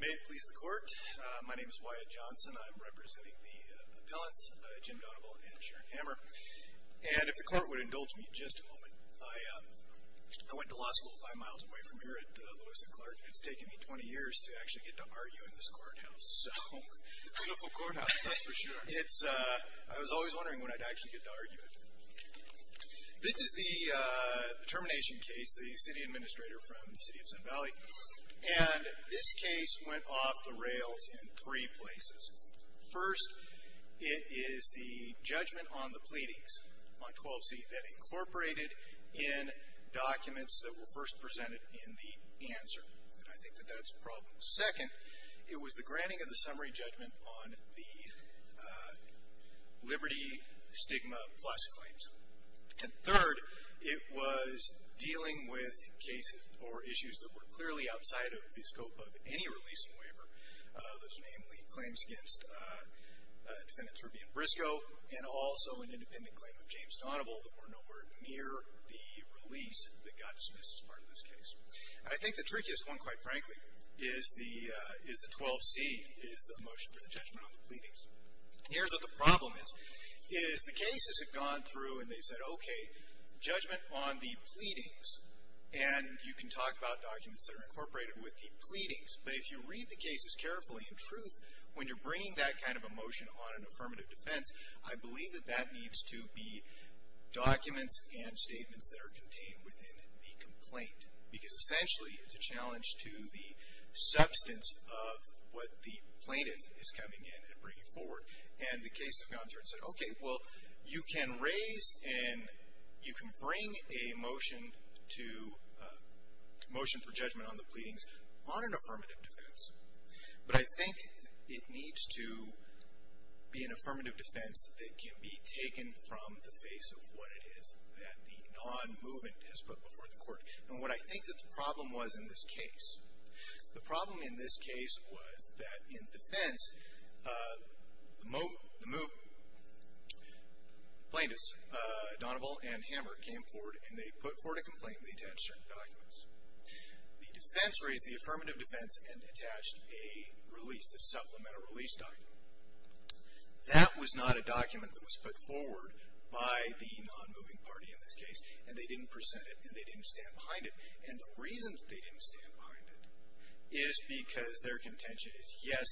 May it please the court my name is Wyatt Johnson I'm representing the appellants Jim Donoval and Sharon Hammer and if the court would indulge me just a moment I went to law school five miles away from here at Lewis and Clark it's taken me 20 years to actually get to argue in this courthouse. It's a beautiful courthouse that's for sure. I was always wondering when I'd actually get to argue it. This is the courthouse and this case went off the rails in three places. First it is the judgment on the pleadings on 12c that incorporated in documents that were first presented in the answer. I think that that's a problem. Second it was the granting of the summary judgment on the Liberty Stigma Plus claims. And third it was dealing with cases or issues that were clearly outside of the scope of any release waiver. Those namely claims against defendants Ruby and Briscoe and also an independent claim of James Donoval that were nowhere near the release that got dismissed as part of this case. I think the trickiest one quite frankly is the is the 12c is the motion for the judgment on the pleadings. Here's what the problem is is the cases have gone through and they've said okay judgment on the pleadings and you can talk about documents that are incorporated with the pleadings but if you read the cases carefully in truth when you're bringing that kind of a motion on an affirmative defense I believe that that needs to be documents and statements that are contained within the complaint. Because essentially it's a challenge to the substance of what the plaintiff is coming in and bringing forward. And the case has gone through and said okay well you can raise and you can bring a motion to motion for judgment on the pleadings on an affirmative defense. But I think it needs to be an affirmative defense that can be taken from the face of what it is that the non-movement has put before the court. And what I think that the problem was in this case. The problem in this case was that in defense the plaintiffs Donoville and Hammer came forward and they put forward a complaint and they attached certain documents. The defense raised the affirmative defense and attached a release, the supplemental release document. That was not a document that was put forward by the non-moving party in this case and they didn't present it and they didn't stand behind it. It is because their contention is yes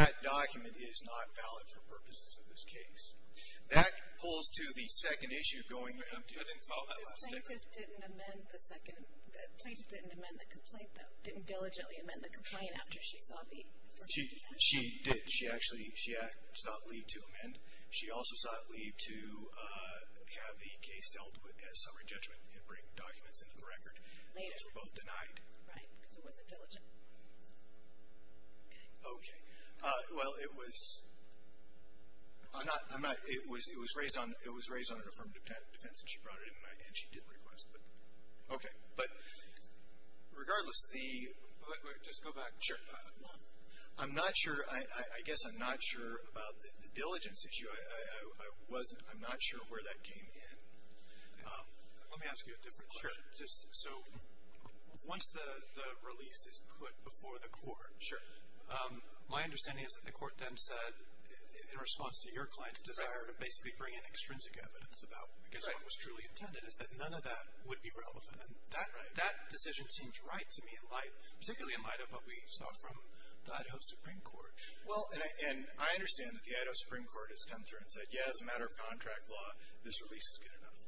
that document is not valid for purposes of this case. That pulls to the second issue of going to the plaintiff. I didn't follow that last statement. The plaintiff didn't amend the second, the plaintiff didn't amend the complaint, didn't diligently amend the complaint after she saw the affirmative defense? She did. She actually, she sought leave to amend. She also sought leave to have the case held as summary judgment and bring documents into the record. Those were both denied. Right, because it wasn't diligent. Okay, well it was, I'm not, it was raised on an affirmative defense and she brought it in and she did request it. Okay, but regardless the, I'm not sure, I guess I'm not sure about the diligence issue. I wasn't, I'm not sure where that came in. Let me ask you a different question. So once the release is put before the court. Sure. My understanding is that the court then said in response to your client's desire to basically bring in extrinsic evidence about, because what was truly intended is that none of that would be relevant. And that decision seems right to me in light, particularly in light of what we saw from the Idaho Supreme Court. Well, and I understand that the Idaho Supreme Court has come through and said, yeah, as a matter of contract law, this release is good enough.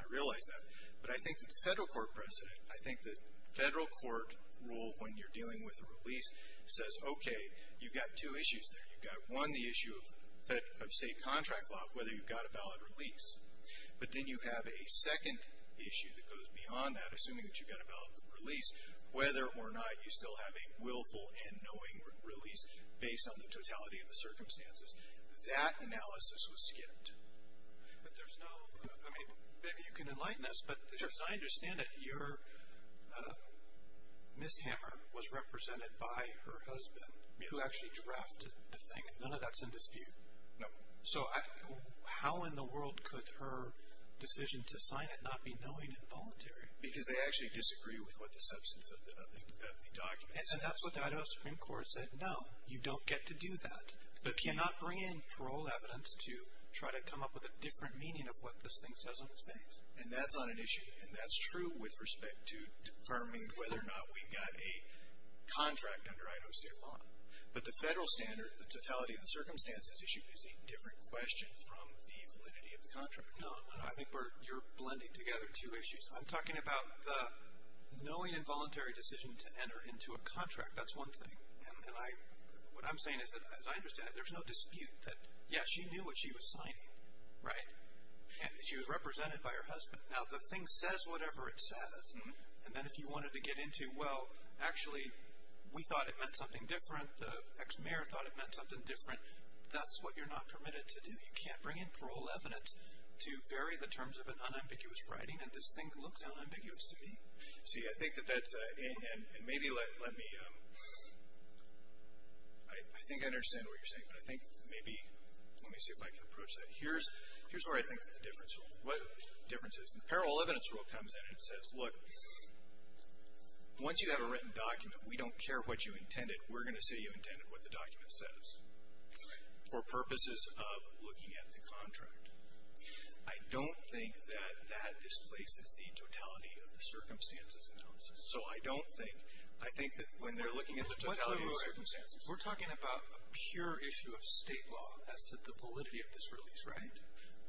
I realize that. But I think that the Federal Court precedent, I think the Federal Court rule when you're dealing with a release says, okay, you've got two issues there. You've got one, the issue of State contract law, whether you've got a valid release. But then you have a second issue that goes beyond that, assuming that you've got a valid release, whether or not you still have a willful and knowing release based on the totality of the circumstances. That analysis was skipped. But there's no, I mean, maybe you can enlighten us. Sure. But as I understand it, your mishammer was represented by her husband. Yes. Who actually drafted the thing. None of that's in dispute. No. So how in the world could her decision to sign it not be knowing and voluntary? Because they actually disagree with what the substance of the document is. And that's what the Idaho Supreme Court said, no, you don't get to do that. But cannot bring in parole evidence to try to come up with a different meaning of what this thing says on its face. And that's not an issue. And that's true with respect to determining whether or not we've got a contract under Idaho State law. But the Federal standard, the totality of the circumstances issue, is a different question from the validity of the contract. No, I think you're blending together two issues. I'm talking about the knowing and voluntary decision to enter into a contract. That's one thing. And what I'm saying is that, as I understand it, there's no dispute that, yes, she knew what she was signing. Right? And she was represented by her husband. Now, the thing says whatever it says. And then if you wanted to get into, well, actually, we thought it meant something different. The ex-mayor thought it meant something different. That's what you're not permitted to do. You can't bring in parole evidence to vary the terms of an unambiguous writing. And this thing looks unambiguous to me. See, I think that that's a, and maybe let me, I think I understand what you're saying, but I think maybe, let me see if I can approach that. Here's where I think the difference is. The parole evidence rule comes in and says, look, once you have a written document, we don't care what you intended. We're going to say you intended what the document says for purposes of looking at the contract. I don't think that that displaces the totality of the circumstances. So I don't think, I think that when they're looking at the totality of the circumstances. We're talking about a pure issue of state law as to the validity of this release, right?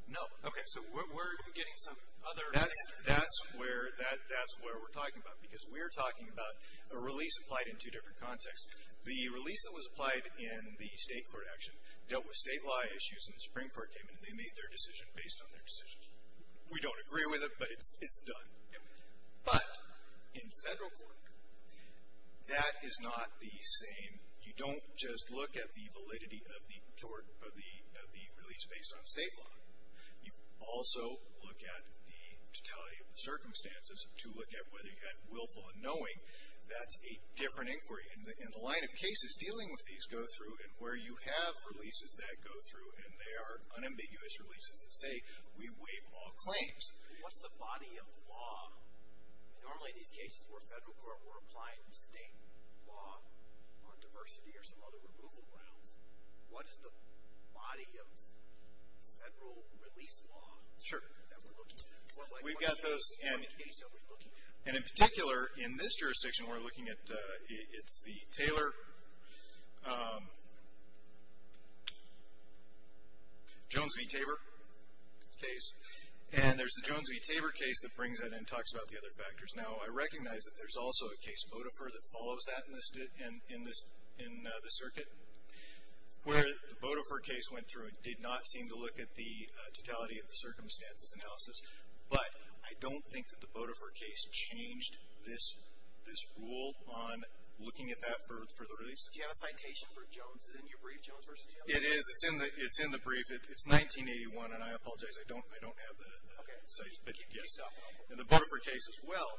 No. Okay. So we're getting some other. That's where, that's where we're talking about. Because we're talking about a release applied in two different contexts. The release that was applied in the state court action dealt with state law issues and the Supreme Court came in and they made their decision based on their decisions. We don't agree with it, but it's done. But in federal court, that is not the same. You don't just look at the validity of the release based on state law. You also look at the totality of the circumstances to look at whether you had willful unknowing. That's a different inquiry. And the line of cases dealing with these go through and where you have releases that go through and they are unambiguous releases that say we waive all claims. What's the body of law? Normally these cases where federal court were applying state law on diversity or some other removal grounds. What is the body of federal release law? Sure. That we're looking at? We've got those. What case are we looking at? And in particular, in this jurisdiction we're looking at, it's the Taylor-Jones v. Tabor case. And there's the Jones v. Tabor case that brings that in and talks about the other factors. Now, I recognize that there's also a case, Bodefer, that follows that in the circuit. Where the Bodefer case went through, it did not seem to look at the totality of the circumstances analysis. But I don't think that the Bodefer case changed this rule on looking at that for the release. Do you have a citation for Jones? Is it in your brief, Jones v. Tabor? It is. It's in the brief. It's 1981, and I apologize. I don't have the citation. Okay. And the Bodefer case as well.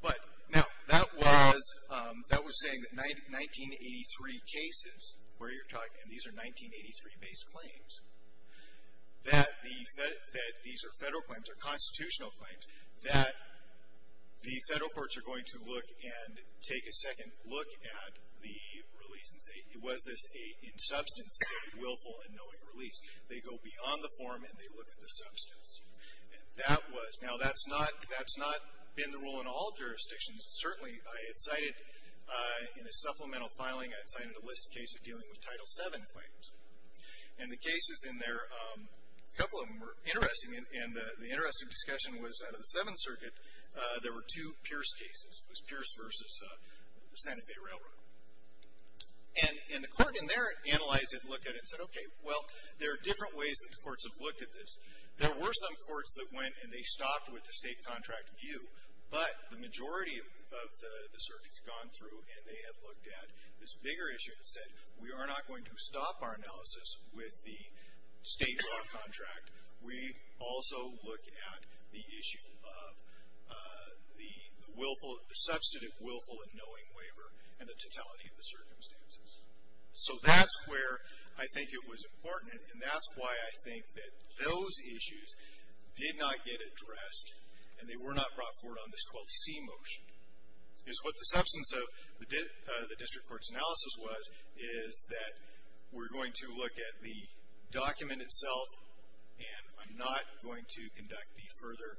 But now, that was saying that 1983 cases where you're talking, and these are 1983-based claims, that these are Federal claims or constitutional claims, that the Federal courts are going to look and take a second look at the release and say, was this a, in substance, a willful and knowing release. They go beyond the form and they look at the substance. And that was. Now, that's not been the rule in all jurisdictions. Certainly, I had cited in a supplemental filing, I had cited a list of cases dealing with Title VII claims. And the cases in there, a couple of them were interesting, and the interesting discussion was under the Seventh Circuit, there were two Pierce cases. It was Pierce v. Santa Fe Railroad. And the court in there analyzed it and looked at it and said, okay, well, there are different ways that the courts have looked at this. There were some courts that went and they stopped with the state contract view, but the majority of the circuits gone through and they have looked at this bigger issue and said, we are not going to stop our analysis with the state law contract. We also look at the issue of the willful, the substantive willful and knowing waiver and the totality of the circumstances. So that's where I think it was important, and that's why I think that those issues did not get addressed and they were not brought forward on this 12C motion. Because what the substance of the district court's analysis was, is that we're going to look at the document itself and I'm not going to conduct the further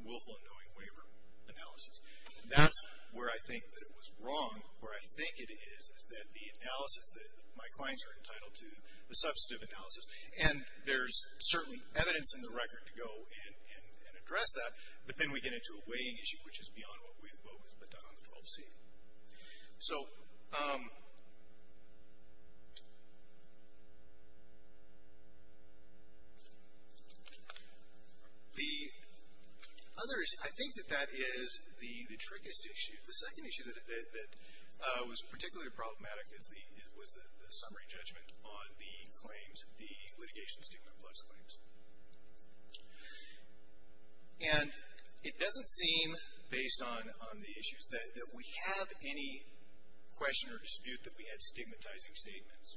willful and knowing waiver analysis. That's where I think that it was wrong. Where I think it is, is that the analysis that my clients are entitled to, the substantive analysis, and there's certain evidence in the record to go and address that, but then we get into a weighing issue, which is beyond what was put down on the 12C. So the other issue, I think that that is the trickiest issue. The second issue that was particularly problematic was the summary judgment on the claims, the litigation stigma plus claims. And it doesn't seem, based on the issues, that we have any question or dispute that we had stigmatizing statements.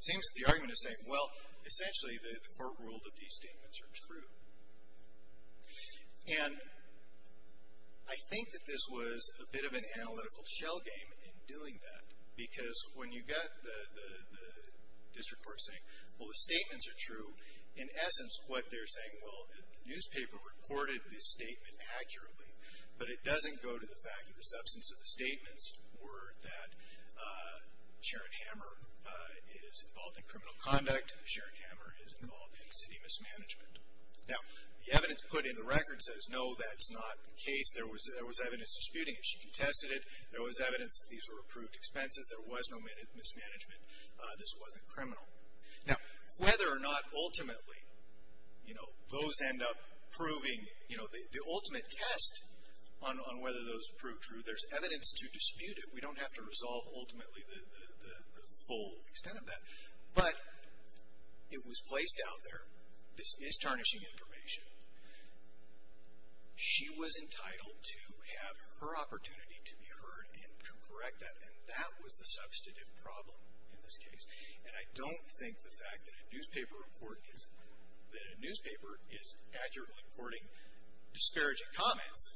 It seems that the argument is saying, well, essentially, the court ruled that these statements are true. And I think that this was a bit of an analytical shell game in doing that, because when you got the district court saying, well, the statements are true, in essence, what they're saying, well, the newspaper reported this statement accurately, but it doesn't go to the fact that the substance of the statements were that Sharon Hammer is involved in criminal conduct. Sharon Hammer is involved in city mismanagement. Now, the evidence put in the record says, no, that's not the case. There was evidence disputing it. She contested it. There was evidence that these were approved expenses. There was no mismanagement. This wasn't criminal. Now, whether or not ultimately, you know, those end up proving, you know, the ultimate test on whether those prove true, there's evidence to dispute it. We don't have to resolve ultimately the full extent of that. But it was placed out there. This is tarnishing information. She was entitled to have her opportunity to be heard and to correct that, and that was the substantive problem in this case. And I don't think the fact that a newspaper report is, that a newspaper is accurately reporting disparaging comments,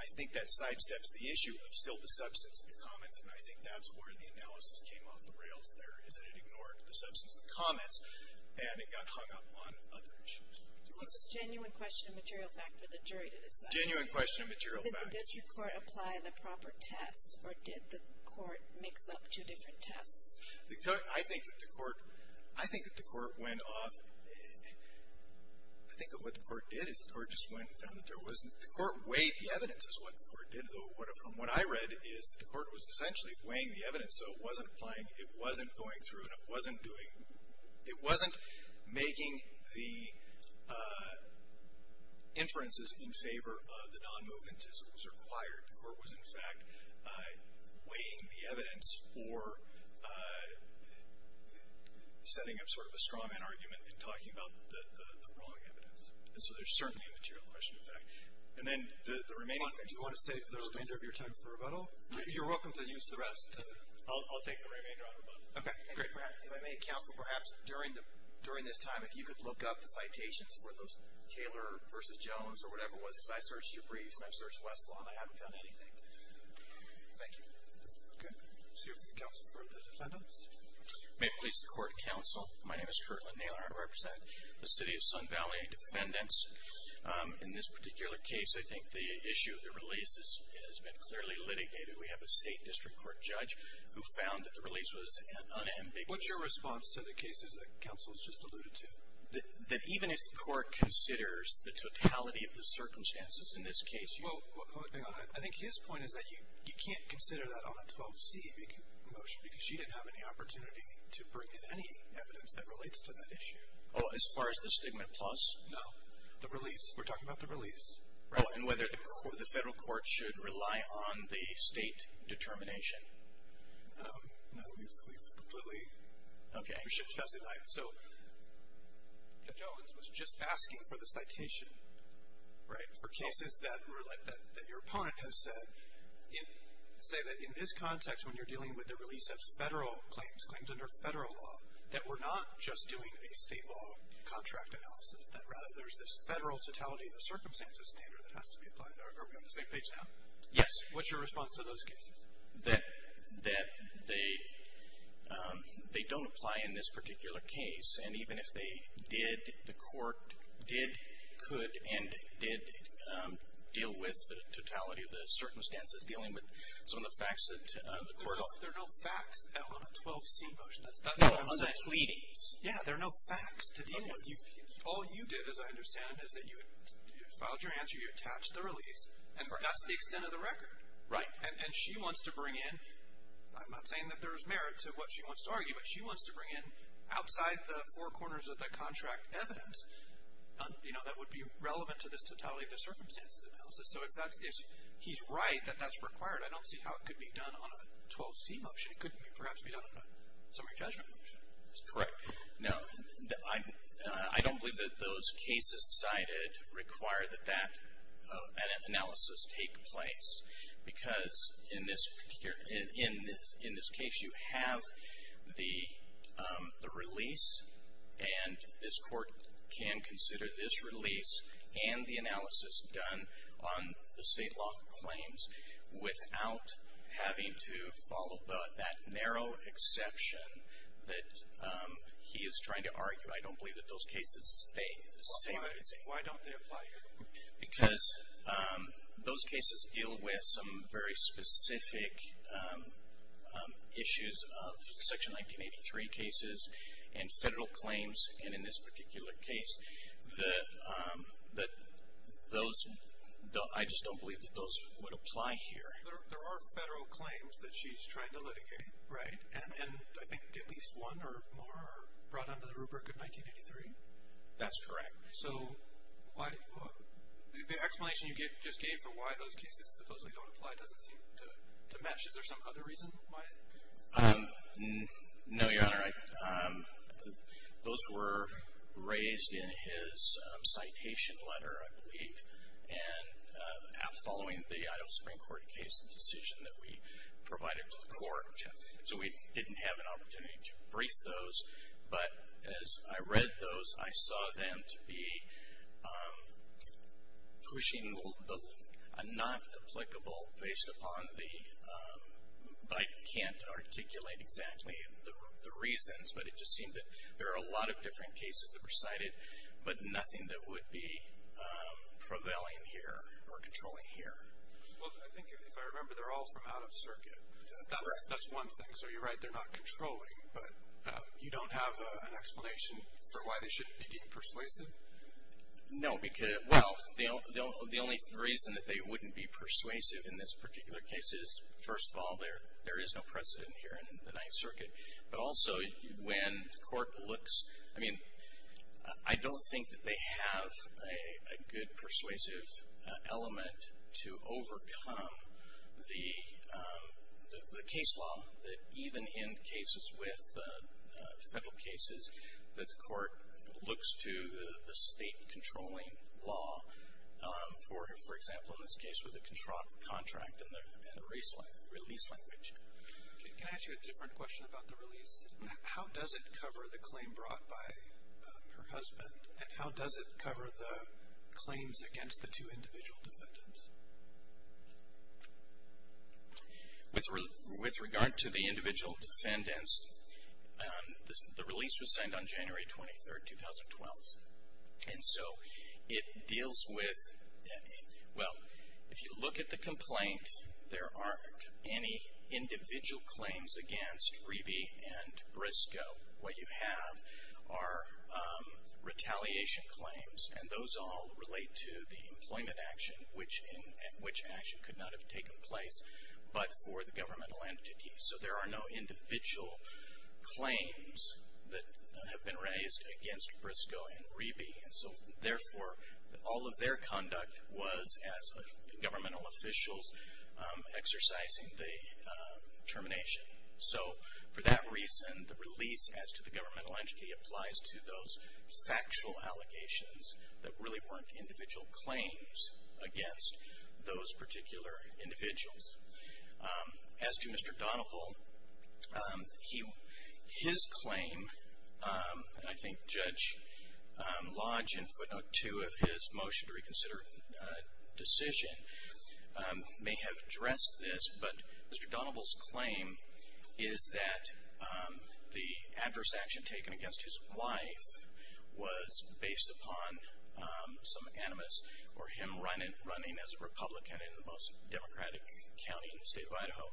I think that sidesteps the issue of still the substance of the comments, and I think that's where the analysis came off the rails there, is that it ignored the substance of the comments, and it got hung up on other issues. It's a genuine question of material fact for the jury to decide. Genuine question of material fact. Did the district court apply the proper test, or did the court mix up two different tests? The court, I think that the court, I think that the court went off, I think that what the court did is the court just went and found that there wasn't, the court weighed the evidence is what the court did. From what I read is that the court was essentially weighing the evidence, so it wasn't applying, it wasn't going through, and it wasn't doing, it wasn't making the inferences in favor of the non-movement as it was required. The court was, in fact, weighing the evidence or setting up sort of a straw man argument and talking about the wrong evidence. And so there's certainly a material question of fact. And then the remaining things. Do you want to save the remainder of your time for rebuttal? You're welcome to use the rest. I'll take the remainder on rebuttal. Okay, great. If I may counsel, perhaps during this time, if you could look up the citations for those Taylor versus Jones or whatever it was, because I searched Debris and I searched Westlaw and I haven't found anything. Thank you. Okay. Let's hear from the counsel for the defendants. May it please the court, counsel. My name is Kirtland Naylor. I represent the city of Sun Valley Defendants. In this particular case, I think the issue of the release has been clearly litigated. We have a state district court judge who found that the release was unambiguous. What's your response to the cases that counsel has just alluded to? That even if the court considers the totality of the circumstances in this case. Well, hang on. I think his point is that you can't consider that on a 12C motion because she didn't have any opportunity to bring in any evidence that relates to that issue. Oh, as far as the stigma plus? No. The release. We're talking about the release. Oh, and whether the federal court should rely on the state determination? No, we've completely. Okay. So the judge was just asking for the citation, right, for cases that your opponent has said. Say that in this context when you're dealing with the release of federal claims, claims under federal law, that we're not just doing a state law contract analysis, that rather there's this federal totality of the circumstances standard that has to be applied. Are we on the same page now? Yes. What's your response to those cases? That they don't apply in this particular case, and even if they did, the court did, could, and did deal with the totality of the circumstances dealing with some of the facts of the court. There are no facts on a 12C motion. No, on the pleadings. Yeah, there are no facts to deal with. All you did, as I understand it, is that you filed your answer, you attached the release, and that's the extent of the record. Right. And she wants to bring in, I'm not saying that there's merit to what she wants to argue, but she wants to bring in outside the four corners of the contract evidence, you know, that would be relevant to this totality of the circumstances analysis. So if he's right that that's required, I don't see how it could be done on a 12C motion. It could perhaps be done on a summary judgment motion. That's correct. Now, I don't believe that those cases cited require that that analysis take place because in this case you have the release, and this court can consider this release and the analysis done on the state law claims without having to follow that narrow exception that he is trying to argue. I don't believe that those cases stay the same. Why don't they apply here? Because those cases deal with some very specific issues of Section 1983 cases and federal claims, and in this particular case that those, I just don't believe that those would apply here. There are federal claims that she's trying to litigate, right? And I think at least one or more are brought under the rubric of 1983. That's correct. So the explanation you just gave for why those cases supposedly don't apply doesn't seem to match. Is there some other reason why? No, Your Honor. Those were raised in his citation letter, I believe, and following the Idaho Supreme Court case and decision that we provided to the court. So we didn't have an opportunity to brief those, but as I read those, I saw them to be pushing a not applicable based upon the, I can't articulate exactly the reasons, but it just seemed that there are a lot of different cases that were cited, but nothing that would be prevailing here or controlling here. Well, I think if I remember, they're all from out of circuit. That's one thing. So you're right, they're not controlling, but you don't have an explanation for why they shouldn't be deemed persuasive? No, because, well, the only reason that they wouldn't be persuasive in this particular case is, first of all, there is no precedent here in the Ninth Circuit. But also when court looks, I mean, I don't think that they have a good persuasive element to overcome the case law, that even in cases with federal cases, that the court looks to the state controlling law, for example, in this case with a contract and a release language. Can I ask you a different question about the release? How does it cover the claim brought by her husband? And how does it cover the claims against the two individual defendants? With regard to the individual defendants, the release was signed on January 23, 2012. And so it deals with, well, if you look at the complaint, there aren't any individual claims against Reby and Briscoe. What you have are retaliation claims, and those all relate to the employment action, which action could not have taken place but for the governmental entity. So there are no individual claims that have been raised against Briscoe and Reby. And so, therefore, all of their conduct was, as governmental officials, exercising the termination. So for that reason, the release, as to the governmental entity, applies to those factual allegations that really weren't individual claims against those particular individuals. As to Mr. Donoville, his claim, and I think Judge Lodge in footnote two of his motion to reconsider decision may have addressed this, but Mr. Donoville's claim is that the adverse action taken against his wife was based upon some animus or him running as a Republican in the most Democratic county in the state of Idaho.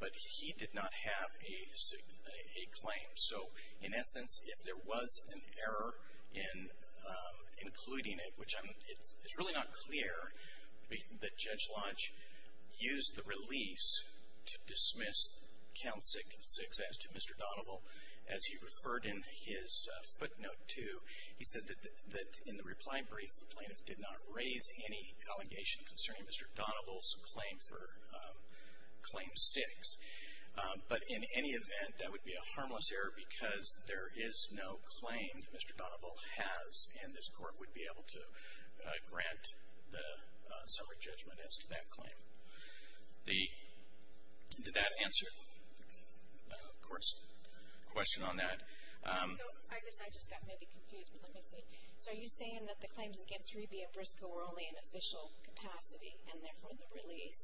But he did not have a claim. So, in essence, if there was an error in including it, which it's really not clear that Judge Lodge used the release to dismiss Council 6 as to Mr. Donoville, as he referred in his footnote two, he said that in the reply brief, the plaintiff did not raise any allegation concerning Mr. Donoville's claim for Claim 6. But in any event, that would be a harmless error because there is no claim that Mr. Donoville has, and this Court would be able to grant the summary judgment as to that claim. Did that answer the Court's question on that? No, I guess I just got maybe confused, but let me see. So are you saying that the claims against Hriby and Briscoe were only in official capacity and therefore the release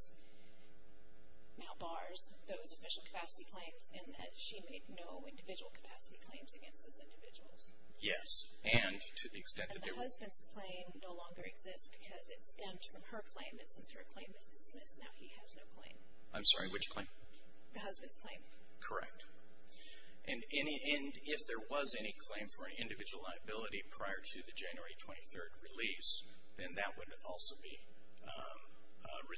now bars those official capacity claims and that she made no individual capacity claims against those individuals? Yes, and to the extent that there were... And the husband's claim no longer exists because it stemmed from her claim, and since her claim is dismissed, now he has no claim. I'm sorry, which claim? The husband's claim. Correct. And if there was any claim for an individual liability prior to the January 23rd release, then that would also be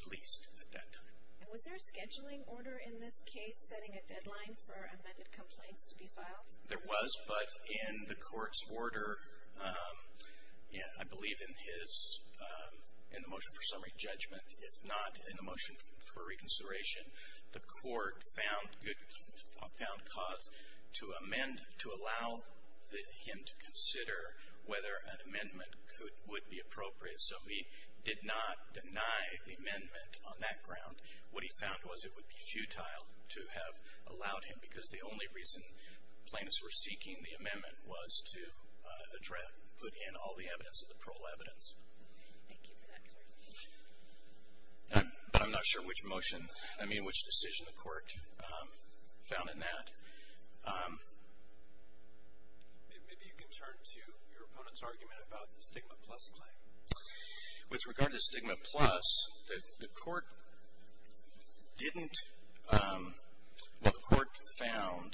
released at that time. And was there a scheduling order in this case, setting a deadline for amended complaints to be filed? There was, but in the Court's order, I believe in the motion for summary judgment, if not in the motion for reconsideration, the Court found cause to amend, to allow him to consider whether an amendment would be appropriate. So he did not deny the amendment on that ground. What he found was it would be futile to have allowed him because the only reason plaintiffs were seeking the amendment was to put in all the evidence of the parole evidence. Thank you for that clarification. But I'm not sure which motion, I mean which decision the Court found in that. Maybe you can turn to your opponent's argument about the stigma plus claim. With regard to stigma plus, the Court didn't... Well, the Court found,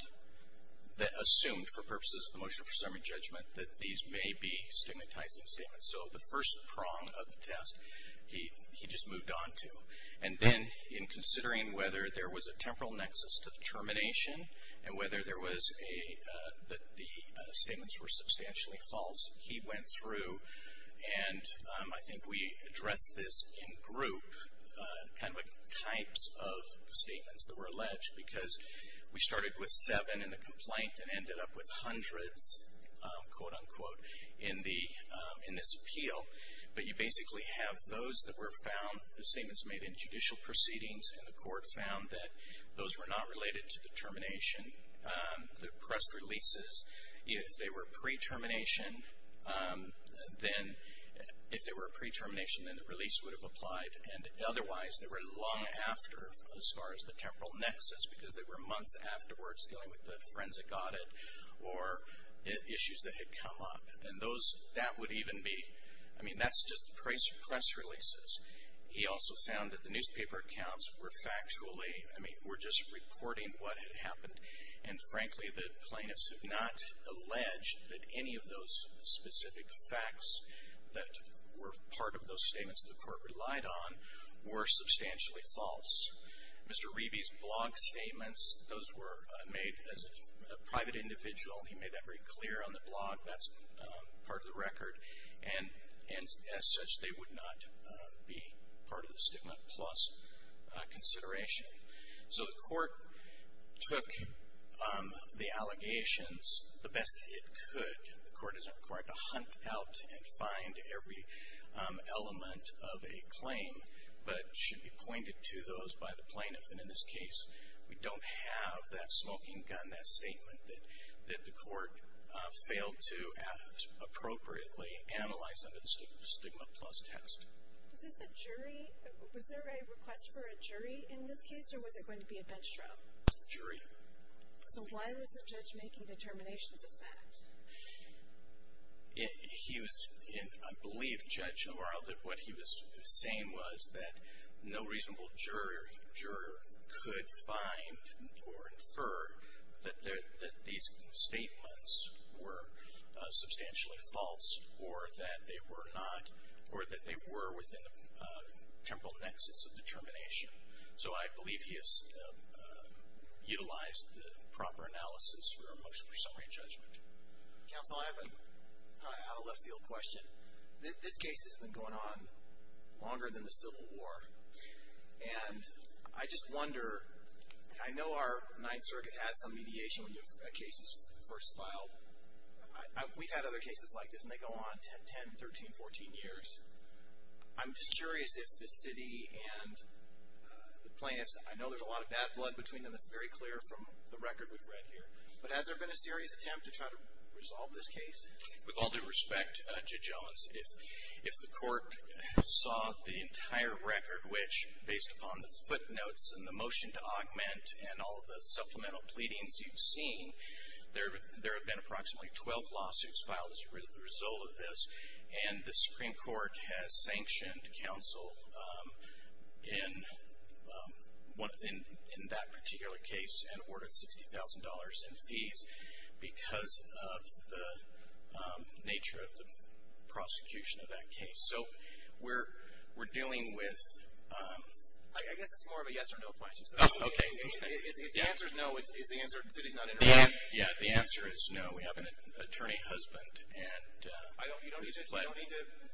assumed for purposes of the motion for summary judgment, that these may be stigmatizing statements. So the first prong of the test, he just moved on to. And then in considering whether there was a temporal nexus to the termination, and whether there was a, that the statements were substantially false, he went through, and I think we addressed this in group, kind of like types of statements that were alleged. Because we started with seven in the complaint and ended up with hundreds, quote, unquote, in this appeal. But you basically have those that were found, the statements made in judicial proceedings, and the Court found that those were not related to the termination. The press releases, if they were pre-termination, then if they were pre-termination, then the release would have applied. And otherwise, they were long after, as far as the temporal nexus, because they were months afterwards, dealing with the forensic audit. Or issues that had come up. And those, that would even be, I mean, that's just the press releases. He also found that the newspaper accounts were factually, I mean, were just reporting what had happened. And frankly, the plaintiffs have not alleged that any of those specific facts that were part of those statements that the Court relied on were substantially false. Mr. Reby's blog statements, those were made as a private individual. He made that very clear on the blog. That's part of the record. And as such, they would not be part of the Statement Plus consideration. So the Court took the allegations the best it could. The Court isn't required to hunt out and find every element of a claim. But should be pointed to those by the plaintiff. And in this case, we don't have that smoking gun, that statement, that the Court failed to appropriately analyze under the Stigma Plus test. Was this a jury, was there a request for a jury in this case? Or was it going to be a bench trial? Jury. So why was the judge making determinations of fact? He was, I believe, Judge Orell, that what he was saying was that no reasonable juror could find or infer that these statements were substantially false or that they were within a temporal nexus of determination. So I believe he has utilized the proper analysis for a motion for summary and judgment. Counsel, I have a left field question. This case has been going on longer than the Civil War. And I just wonder, and I know our Ninth Circuit has some mediation when your case is first filed. We've had other cases like this, and they go on 10, 13, 14 years. I'm just curious if the city and the plaintiffs, I know there's a lot of bad blood between them, that's very clear from the record we've read here. But has there been a serious attempt to try to resolve this case? With all due respect, Judge Owens, if the Court saw the entire record, which based upon the footnotes and the motion to augment and all of the supplemental pleadings you've seen, there have been approximately 12 lawsuits filed as a result of this. And the Supreme Court has sanctioned counsel in that particular case and awarded $60,000 in fees because of the nature of the prosecution of that case. So we're dealing with... I guess it's more of a yes or no question. Okay. If the answer is no, is the answer the city's not interested? Yeah, the answer is no. We have an attorney-husband. You don't need to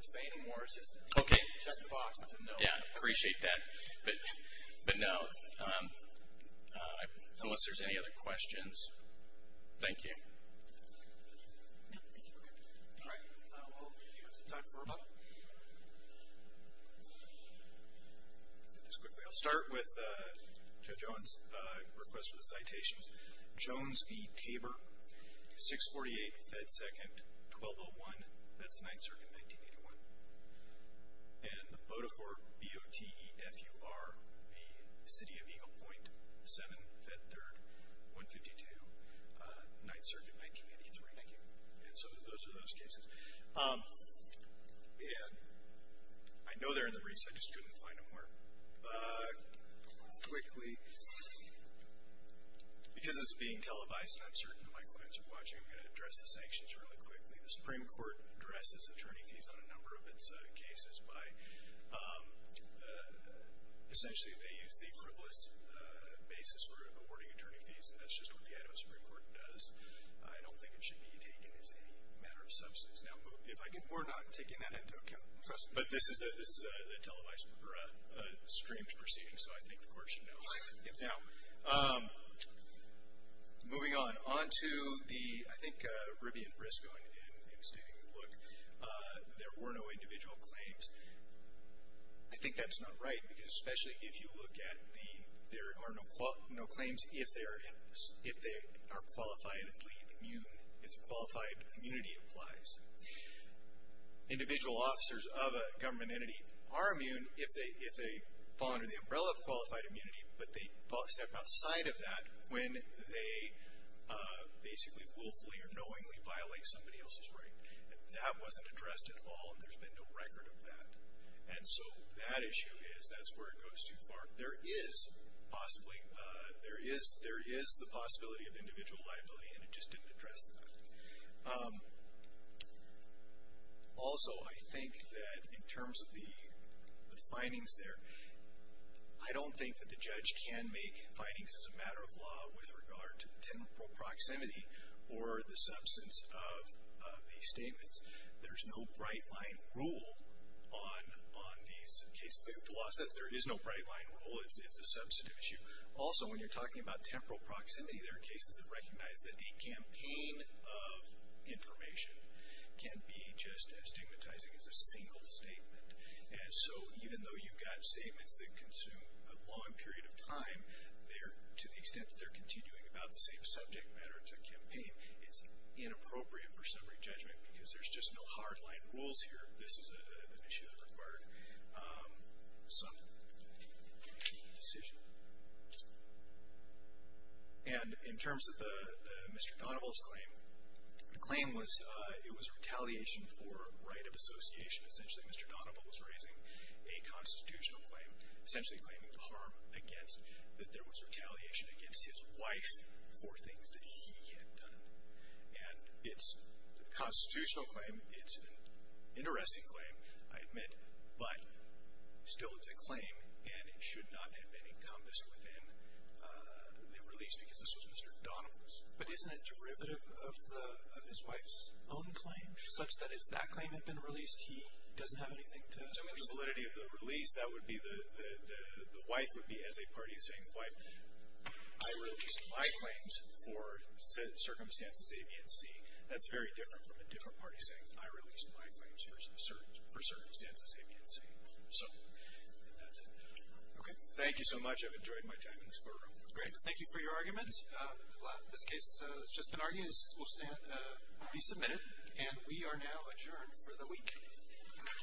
say any more. It's just check the box and say no. Yeah, I appreciate that. But no, unless there's any other questions. Thank you. All right. We'll give you some time for a moment. Just quickly, I'll start with Judge Owens' request for the citations. Jones v. Tabor, 648, Fed 2nd, 1201. That's the Ninth Circuit, 1981. And the Bodefort, B-O-T-E-F-U-R v. City of Eagle Point, 7, Fed 3rd, 152, Ninth Circuit, 1983. Thank you. And so those are those cases. And I know they're in the briefs. I just couldn't find them where. Quickly, because it's being televised and I'm certain my clients are watching, I'm going to address the sanctions really quickly. The Supreme Court addresses attorney fees on a number of its cases by essentially they use the frivolous basis for awarding attorney fees. And that's just what the Idaho Supreme Court does. I don't think it should be taken as any matter of substance. Now, if I could move. We're not taking that into account. But this is a televised or streamed procedure, so I think the court should know. Now, moving on. On to the, I think, Ribby and Briscoe in stating, look, there were no individual claims. I think that's not right, because especially if you look at the, there are no claims if they are qualifiedly immune, if qualified immunity applies. Individual officers of a government entity are immune if they fall under the umbrella of qualified immunity, but they step outside of that when they basically willfully or knowingly violate somebody else's right. That wasn't addressed at all, and there's been no record of that. And so that issue is, that's where it goes too far. There is possibly, there is the possibility of individual liability, and it just didn't address that. Also, I think that in terms of the findings there, I don't think that the judge can make findings as a matter of law with regard to the temporal proximity or the substance of these statements. There's no bright line rule on these cases. The law says there is no bright line rule. It's a substantive issue. Also, when you're talking about temporal proximity, there are cases that recognize that a campaign of information can be just as stigmatizing as a single statement. And so even though you've got statements that consume a long period of time, to the extent that they're continuing about the same subject matter, it's a campaign, it's inappropriate for summary judgment, because there's just no hard line rules here. This is an issue that required some decision. And in terms of Mr. Donoval's claim, the claim was, it was retaliation for right of association. Essentially, Mr. Donoval was raising a constitutional claim, essentially claiming the harm against, that there was retaliation against his wife for things that he had done. And it's a constitutional claim. It's an interesting claim, I admit. But still, it's a claim, and it should not have been encompassed within the release, because this was Mr. Donoval's. But isn't it derivative of the, of his wife's own claim, such that if that claim had been released, he doesn't have anything to say? I mean, the validity of the release, that would be the, the wife would be as a party saying, I released my claims for circumstances A, B, and C. That's very different from a different party saying, I released my claims for circumstances A, B, and C. So, and that's it. Okay? Thank you so much. I've enjoyed my time in this boardroom. Great. Thank you for your argument. This case has just been argued. This will stand, be submitted, and we are now adjourned for the week. Thank you very much. Thank you.